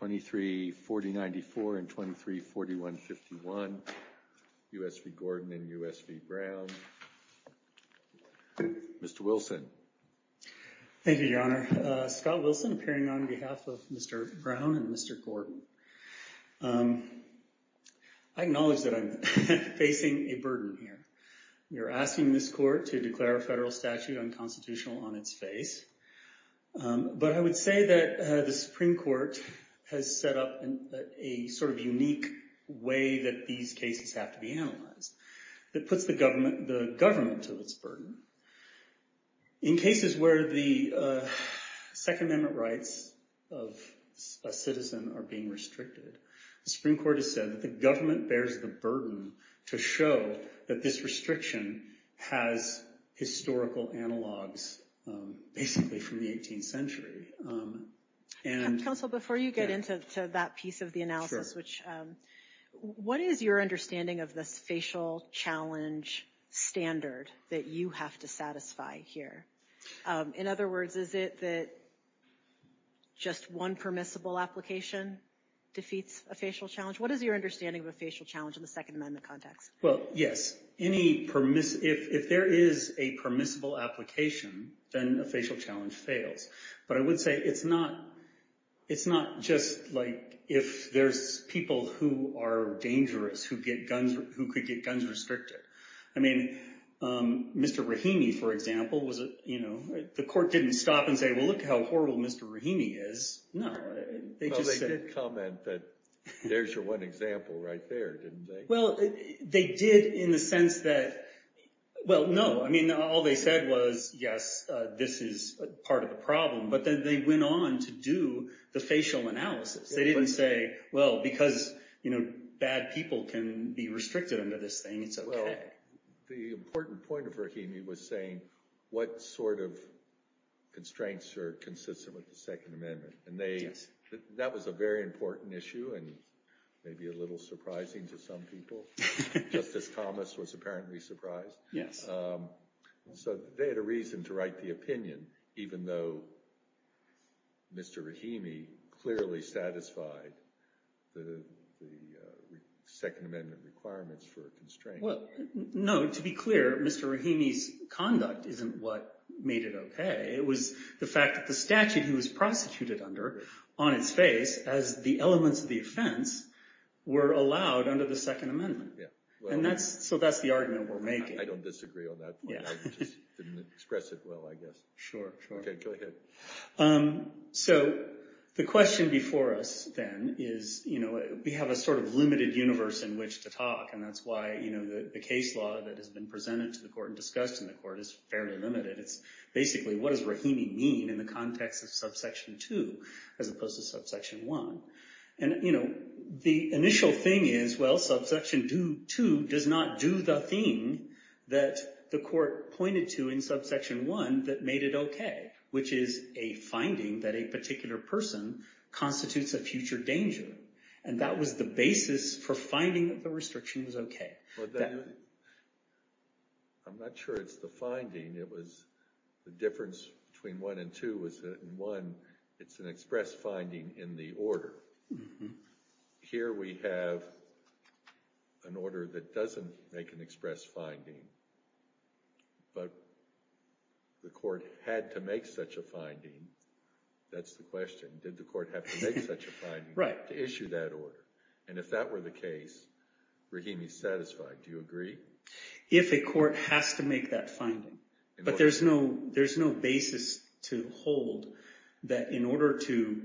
234094 and 234151, U.S. v. Gordon and U.S. v. Brown. Mr. Wilson. Thank you, Your Honor. Scott Wilson appearing on behalf of Mr. Brown and Mr. Gordon. I acknowledge that I'm facing a burden here. You're asking this court to declare a federal statute unconstitutional on its face. But I would say that the Supreme Court has set up a sort of unique way that these cases have to be analyzed that puts the government to its burden. In cases where the Second Amendment rights of a citizen are being restricted, the Supreme Court has said that the government bears the burden to show that this restriction has historical analogs basically from the 18th century. Counsel, before you get into that piece of the analysis, what is your understanding of this facial challenge standard that you have to satisfy here? In other words, is it that just one permissible application defeats a facial challenge? What is your understanding of a facial challenge in the Second Amendment context? Well, yes. If there is a permissible application, then a facial challenge fails. But I would say it's not just like if there's people who are dangerous who could get guns restricted. I mean, Mr. Rahimi, for example, the court didn't stop and say, well, look how horrible Mr. Rahimi is. No. Well, they did comment that there's your one example right there, didn't they? Well, they did in the sense that, well, no. I mean, all they said was, yes, this is part of the problem. But then they went on to do the facial analysis. They didn't say, well, because bad people can be restricted under this thing, it's okay. Well, the important point of Rahimi was saying what sort of constraints are consistent with the Second Amendment. That was a very important issue and maybe a little surprising to some people. Justice Thomas was apparently surprised. So they had a reason to write the opinion, even though Mr. Rahimi clearly satisfied the Second Amendment requirements for a constraint. Well, no. To be clear, Mr. Rahimi's conduct isn't what made it okay. It was the fact that the statute he was prostituted under on its face, as the elements of the offense, were allowed under the Second Amendment. So that's the argument we're making. I don't disagree on that point. I just didn't express it well, I guess. Sure, sure. Okay, go ahead. So the question before us, then, is we have a sort of limited universe in which to talk. And that's why the case law that has been presented to the court and discussed in the court is fairly limited. It's basically, what does Rahimi mean in the context of Subsection 2 as opposed to Subsection 1? And the initial thing is, well, Subsection 2 does not do the thing that the court pointed to in Subsection 1 that made it okay, which is a finding that a particular person constitutes a future danger. And that was the basis for finding that the restriction was okay. I'm not sure it's the finding. It was the difference between 1 and 2 was that in 1, it's an express finding in the order. Here we have an order that doesn't make an express finding. But the court had to make such a finding. That's the question. Did the court have to make such a finding to issue that order? And if that were the case, Rahimi's satisfied. Do you agree? If a court has to make that finding. But there's no basis to hold that in order to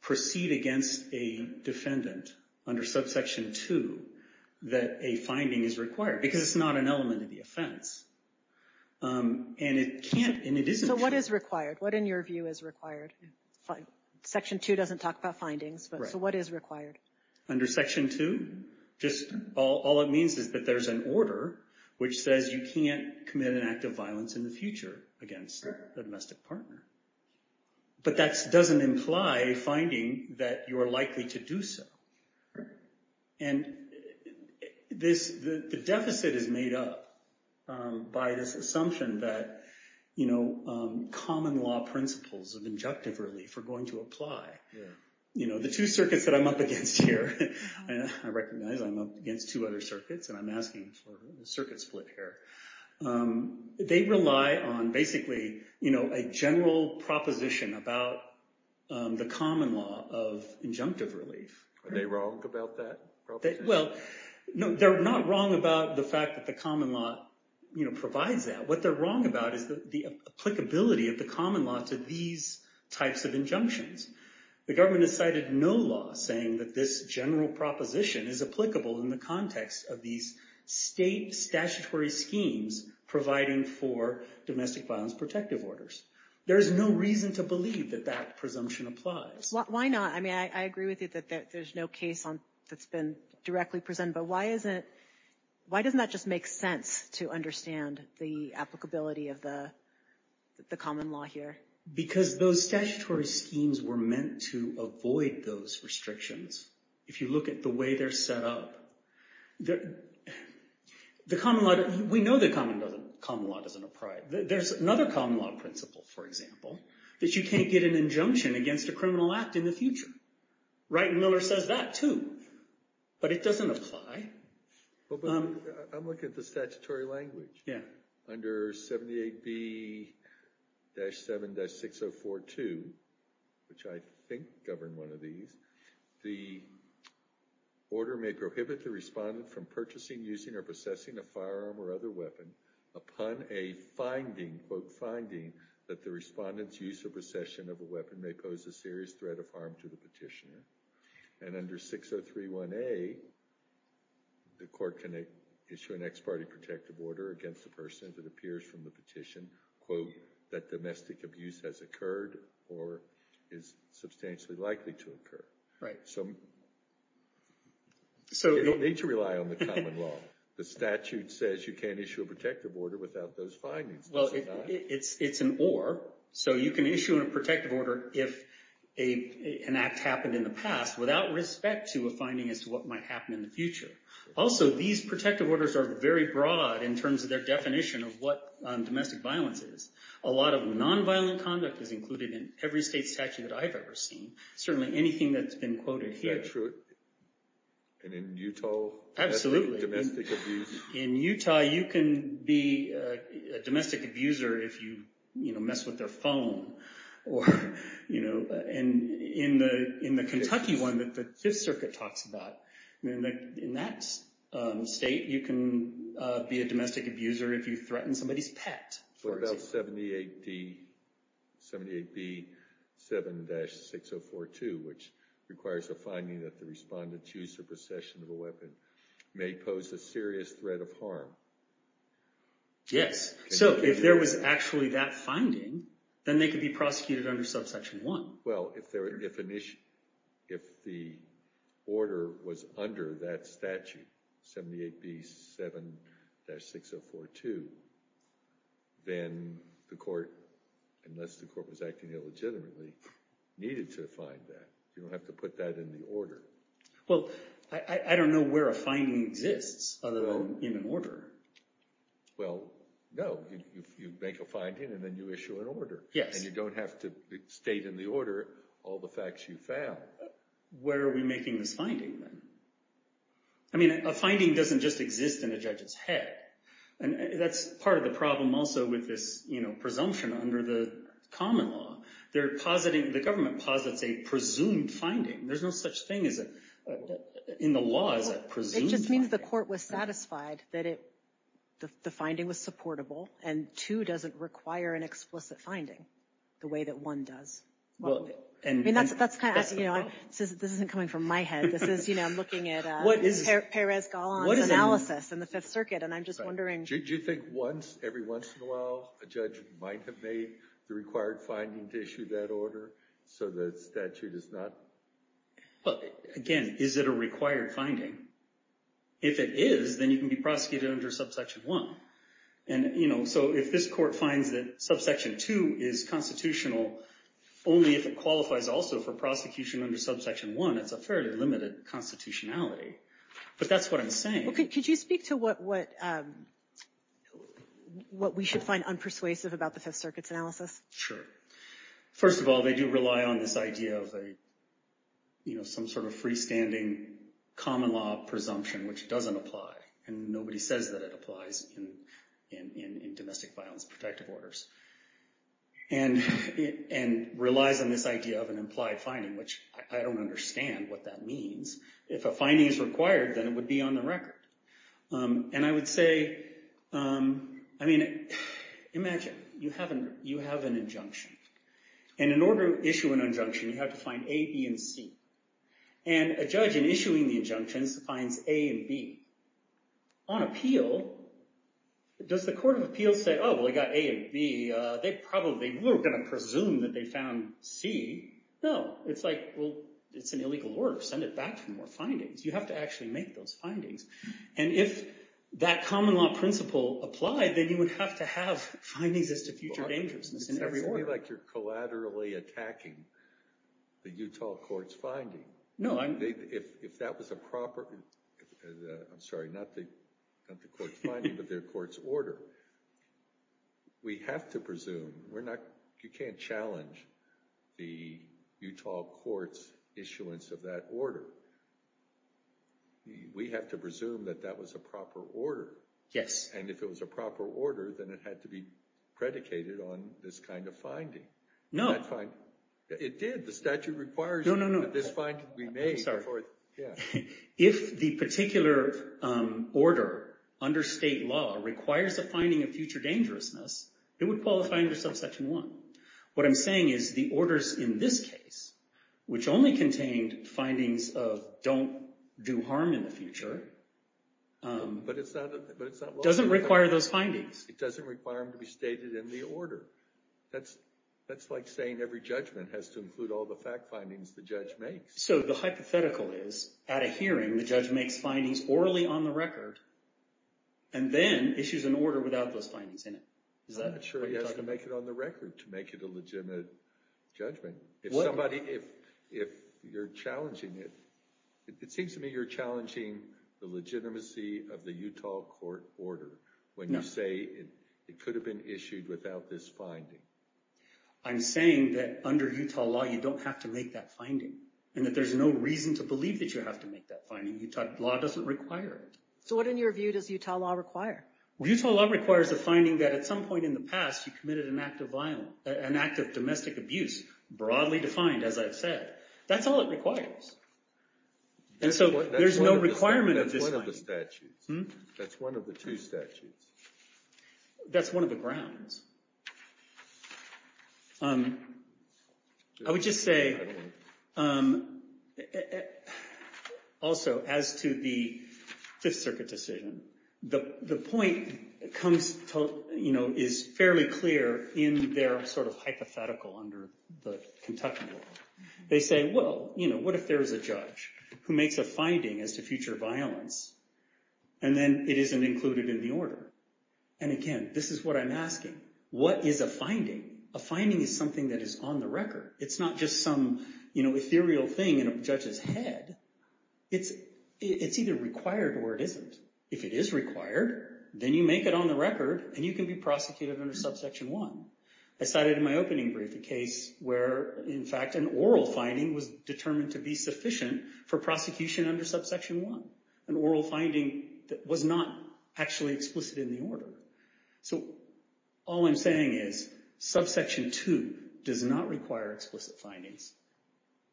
proceed against a defendant under Subsection 2, that a finding is required. Because it's not an element of the offense. And it can't, and it isn't. So what is required? What, in your view, is required? Section 2 doesn't talk about findings. So what is required? Under Section 2, all it means is that there's an order which says you can't commit an act of violence in the future against a domestic partner. But that doesn't imply a finding that you are likely to do so. And the deficit is made up by this assumption that common law principles of injunctive relief are going to apply. The two circuits that I'm up against here, I recognize I'm up against two other circuits, and I'm asking for a circuit split here. They rely on basically a general proposition about the common law of injunctive relief. Are they wrong about that proposition? Well, no, they're not wrong about the fact that the common law provides that. What they're wrong about is the applicability of the common law to these types of injunctions. The government has cited no law saying that this general proposition is applicable in the context of these state statutory schemes providing for domestic violence protective orders. There's no reason to believe that that presumption applies. Why not? I mean, I agree with you that there's no case that's been directly presented. But why doesn't that just make sense to understand the applicability of the common law here? Because those statutory schemes were meant to avoid those restrictions. If you look at the way they're set up, we know that common law doesn't apply. There's another common law principle, for example, that you can't get an injunction against a criminal act in the future. Wright and Miller says that too. But it doesn't apply. I'm looking at the statutory language. And under 6031A, the court can issue an ex parte protective order against the person that appears from the petition. That domestic abuse has occurred or is substantially likely to occur. You don't need to rely on the common law. The statute says you can't issue a protective order without those findings. Well, it's an or. So you can issue a protective order if an act happened in the past without respect to a finding as to what might happen in the future. Also, these protective orders are very broad in terms of their definition of what domestic violence is. A lot of nonviolent conduct is included in every state statute that I've ever seen. Certainly anything that's been quoted here. Is that true? And in Utah? Absolutely. Domestic abuse? In Utah, you can be a domestic abuser if you mess with their phone. And in the Kentucky one that the Fifth Circuit talks about, in that state, you can be a domestic abuser if you threaten somebody's pet. What about 78B7-6042, which requires a finding that the respondent's use or possession of a weapon may pose a serious threat of harm? Yes. So if there was actually that finding, then they could be prosecuted under subsection 1. Well, if the order was under that statute, 78B7-6042, then the court, unless the court was acting illegitimately, needed to find that. You don't have to put that in the order. Well, I don't know where a finding exists other than in an order. Well, no. You make a finding, and then you issue an order. And you don't have to state in the order all the facts you found. Where are we making this finding, then? I mean, a finding doesn't just exist in a judge's head. And that's part of the problem also with this presumption under the common law. The government posits a presumed finding. There's no such thing in the law as a presumed finding. It just means the court was satisfied that the finding was supportable, and two, doesn't require an explicit finding the way that one does. I mean, that's kind of asking, you know, this isn't coming from my head. This is, you know, I'm looking at Perez-Golan's analysis in the Fifth Circuit, and I'm just wondering. Do you think once, every once in a while, a judge might have made the required finding to issue that order so the statute is not? Again, is it a required finding? If it is, then you can be prosecuted under Subsection 1. And, you know, so if this court finds that Subsection 2 is constitutional, only if it qualifies also for prosecution under Subsection 1, it's a fairly limited constitutionality. But that's what I'm saying. Could you speak to what we should find unpersuasive about the Fifth Circuit's analysis? Sure. First of all, they do rely on this idea of a, you know, some sort of freestanding common law presumption, which doesn't apply. And nobody says that it applies in domestic violence protective orders. And relies on this idea of an implied finding, which I don't understand what that means. If a finding is required, then it would be on the record. And I would say, I mean, imagine you have an injunction. And in order to issue an injunction, you have to find A, B, and C. And a judge, in issuing the injunctions, finds A and B. On appeal, does the court of appeals say, oh, well, they got A and B. They probably were going to presume that they found C. No, it's like, well, it's an illegal order. Send it back for more findings. You have to actually make those findings. And if that common law principle applied, then you would have to have findings as to future dangerousness in every order. It's definitely like you're collaterally attacking the Utah court's finding. No, I'm— If that was a proper—I'm sorry, not the court's finding, but their court's order. We have to presume. We're not—you can't challenge the Utah court's issuance of that order. We have to presume that that was a proper order. Yes. And if it was a proper order, then it had to be predicated on this kind of finding. No. It did. The statute requires— No, no, no. I'm sorry. Yeah. If the particular order under state law requires a finding of future dangerousness, it would qualify under subsection 1. What I'm saying is the orders in this case, which only contained findings of don't do harm in the future— But it's not— Doesn't require those findings. It doesn't require them to be stated in the order. That's like saying every judgment has to include all the fact findings the judge makes. So the hypothetical is at a hearing, the judge makes findings orally on the record and then issues an order without those findings in it. Is that what you're talking about? I'm not sure he has to make it on the record to make it a legitimate judgment. If somebody—if you're challenging it—it seems to me you're challenging the legitimacy of the Utah court order when you say it could have been issued without this finding. I'm saying that under Utah law you don't have to make that finding and that there's no reason to believe that you have to make that finding. Utah law doesn't require it. So what, in your view, does Utah law require? Utah law requires the finding that at some point in the past you committed an act of domestic abuse, broadly defined, as I've said. That's all it requires. And so there's no requirement of this finding. That's one of the statutes. That's one of the two statutes. That's one of the grounds. I would just say, also, as to the Fifth Circuit decision, the point is fairly clear in their sort of hypothetical under the Kentucky law. They say, well, you know, what if there's a judge who makes a finding as to future violence and then it isn't included in the order? And again, this is what I'm asking. What is a finding? A finding is something that is on the record. It's not just some, you know, ethereal thing in a judge's head. It's either required or it isn't. If it is required, then you make it on the record and you can be prosecuted under Subsection 1. I cited in my opening brief a case where, in fact, an oral finding was determined to be sufficient for prosecution under Subsection 1, an oral finding that was not actually explicit in the order. So all I'm saying is Subsection 2 does not require explicit findings,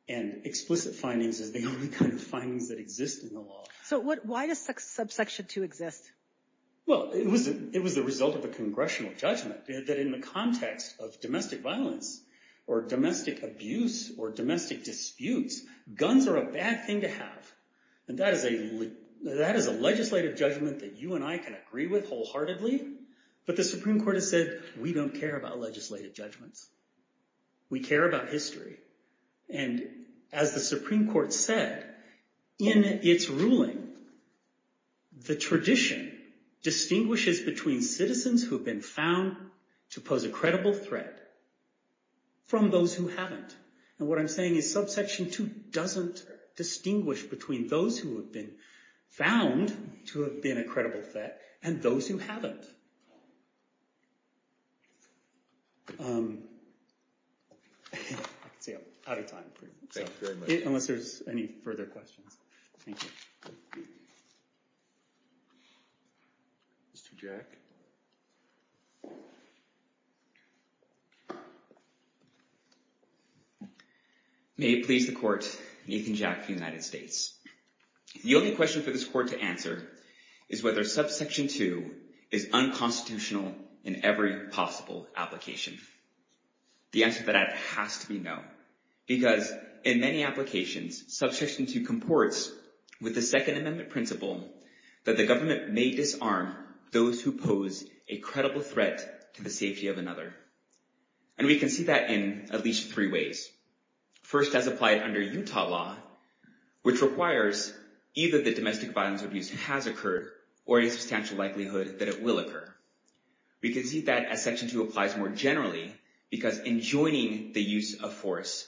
and explicit findings is the only kind of findings that exist in the law. So why does Subsection 2 exist? Well, it was the result of a congressional judgment that in the context of domestic violence or domestic abuse or domestic disputes, guns are a bad thing to have. And that is a legislative judgment that you and I can agree with wholeheartedly. But the Supreme Court has said we don't care about legislative judgments. We care about history. And as the Supreme Court said, in its ruling, the tradition distinguishes between citizens who have been found to pose a credible threat from those who haven't. And what I'm saying is Subsection 2 doesn't distinguish between those who have been found to have been a credible threat and those who haven't. I can see I'm out of time. Thank you very much. Unless there's any further questions. Thank you. Mr. Jack? May it please the Court, Nathan Jack for the United States. The only question for this Court to answer is whether Subsection 2 is unconstitutional in every possible application. The answer to that has to be no. Because in many applications, Subsection 2 comports with the Second Amendment principle that the government may disarm those who pose a credible threat to the safety of another. And we can see that in at least three ways. First, as applied under Utah law, which requires either that domestic violence or abuse has occurred or a substantial likelihood that it will occur. We can see that as Subsection 2 applies more generally because enjoining the use of force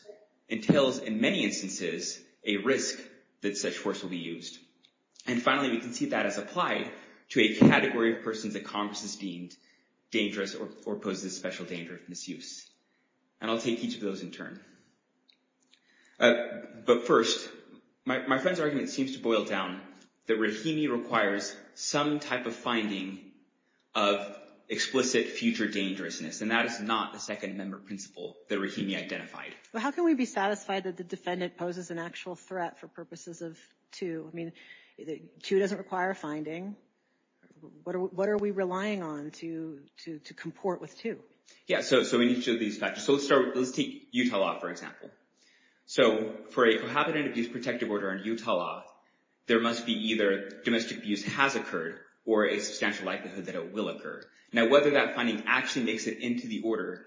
entails, in many instances, a risk that such force will be used. And finally, we can see that as applied to a category of persons that Congress has deemed dangerous or pose a special danger of misuse. And I'll take each of those in turn. But first, my friend's argument seems to boil down that Rahimi requires some type of finding of explicit future dangerousness. And that is not the Second Amendment principle that Rahimi identified. Well, how can we be satisfied that the defendant poses an actual threat for purposes of 2? I mean, 2 doesn't require a finding. What are we relying on to comport with 2? Yeah, so in each of these factors. So let's take Utah law, for example. So for a cohabitant abuse protective order under Utah law, there must be either domestic abuse has occurred or a substantial likelihood that it will occur. Now, whether that finding actually makes it into the order,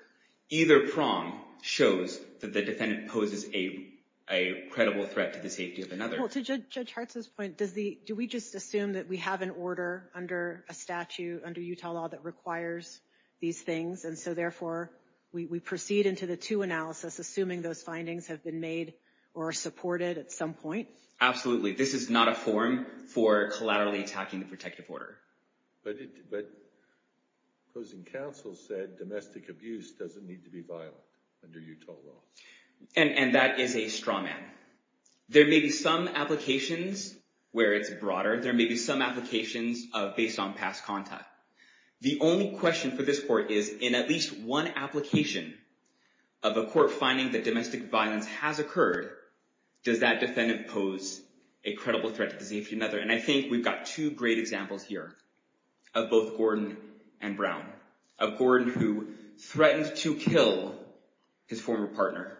either prong shows that the defendant poses a credible threat to the safety of another. Well, to Judge Hartzell's point, do we just assume that we have an order under a statute under Utah law that requires these things? And so therefore, we proceed into the 2 analysis, assuming those findings have been made or supported at some point? Absolutely. This is not a form for collaterally attacking the protective order. But opposing counsel said domestic abuse doesn't need to be violent under Utah law. And that is a straw man. There may be some applications where it's broader. There may be some applications based on past contact. The only question for this court is, in at least one application of a court finding that domestic violence has occurred, does that defendant pose a credible threat to the safety of another? And I think we've got two great examples here of both Gordon and Brown. A Gordon who threatened to kill his former partner.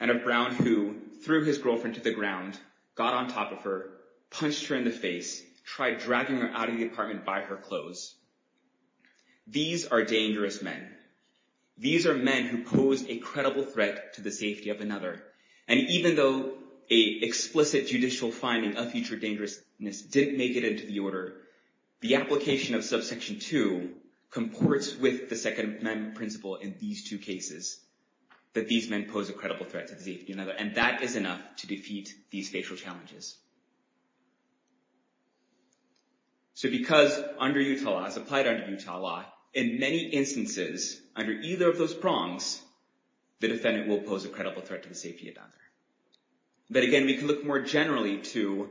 And a Brown who threw his girlfriend to the ground, got on top of her, punched her in the face, tried dragging her out of the apartment by her clothes. These are dangerous men. These are men who pose a credible threat to the safety of another. And even though a explicit judicial finding of future dangerousness didn't make it into the order, the application of subsection 2 comports with the Second Amendment principle in these two cases. That these men pose a credible threat to the safety of another. And that is enough to defeat these facial challenges. So because under Utah law, as applied under Utah law, in many instances, under either of those prongs, the defendant will pose a credible threat to the safety of another. But again, we can look more generally to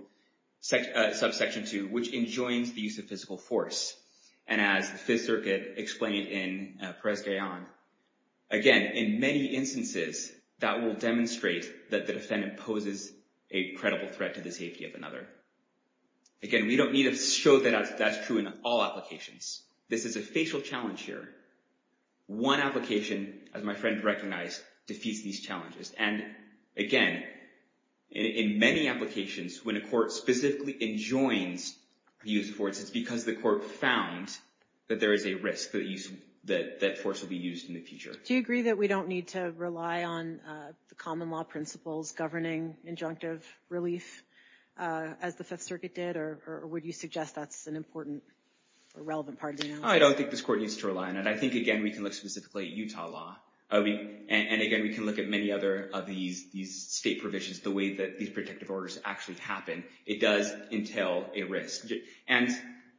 subsection 2, which enjoins the use of physical force. And as the Fifth Circuit explained in Perez-Gayon, again, in many instances, that will demonstrate that the defendant poses a credible threat to the safety of another. Again, we don't need to show that that's true in all applications. This is a facial challenge here. One application, as my friend recognized, defeats these challenges. And again, in many applications, when a court specifically enjoins the use of force, it's because the court found that there is a risk that force will be used in the future. Do you agree that we don't need to rely on the common law principles governing injunctive relief, as the Fifth Circuit did? Or would you suggest that's an important or relevant part of the analysis? I don't think this court needs to rely on it. But I think, again, we can look specifically at Utah law. And again, we can look at many other of these state provisions, the way that these protective orders actually happen. It does entail a risk. And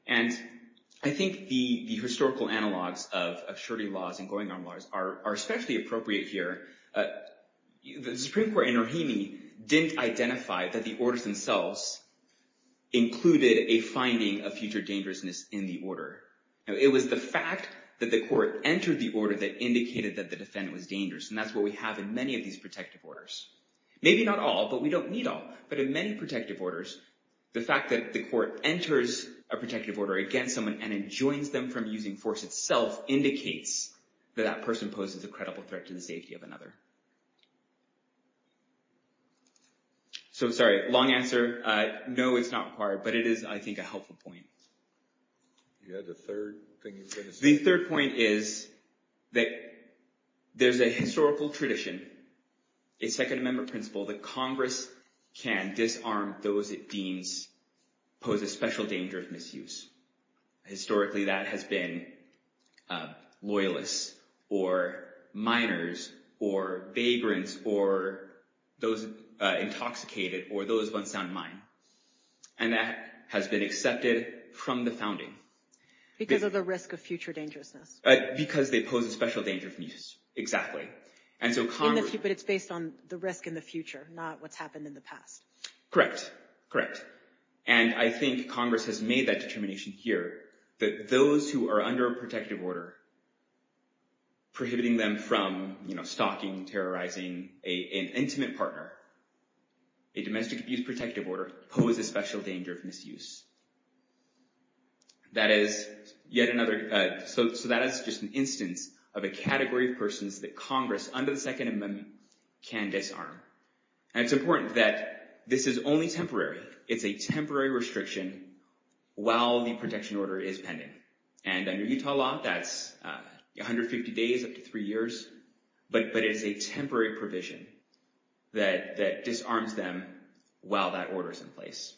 I think the historical analogs of surety laws and going-arm laws are especially appropriate here. The Supreme Court in Rohimi didn't identify that the orders themselves included a finding of future dangerousness in the order. It was the fact that the court entered the order that indicated that the defendant was dangerous. And that's what we have in many of these protective orders. Maybe not all, but we don't need all. But in many protective orders, the fact that the court enters a protective order against someone and enjoins them from using force itself indicates that that person poses a credible threat to the safety of another. So, sorry, long answer. No, it's not required. But it is, I think, a helpful point. You had a third thing you said. The third point is that there's a historical tradition, a Second Amendment principle, that Congress can disarm those it deems pose a special danger of misuse. Historically, that has been loyalists or minors or vagrants or those intoxicated or those of unsound mind. And that has been accepted from the founding. Because of the risk of future dangerousness. Because they pose a special danger of misuse, exactly. But it's based on the risk in the future, not what's happened in the past. Correct, correct. And I think Congress has made that determination here, that those who are under a protective order, prohibiting them from stalking, terrorizing an intimate partner, a domestic abuse protective order, pose a special danger of misuse. So that is just an instance of a category of persons that Congress, under the Second Amendment, can disarm. And it's important that this is only temporary. It's a temporary restriction while the protection order is pending. And under Utah law, that's 150 days up to three years. But it is a temporary provision that disarms them while that order is in place.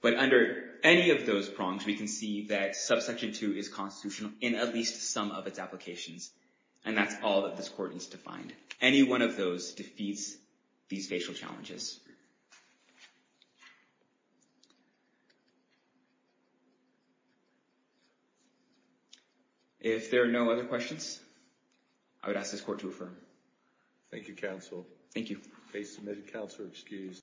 But under any of those prongs, we can see that Subsection 2 is constitutional in at least some of its applications. And that's all that this court needs to find. Any one of those defeats these facial challenges. If there are no other questions, I would ask this court to affirm. Thank you, counsel. Thank you. Face submitted, counselor excused.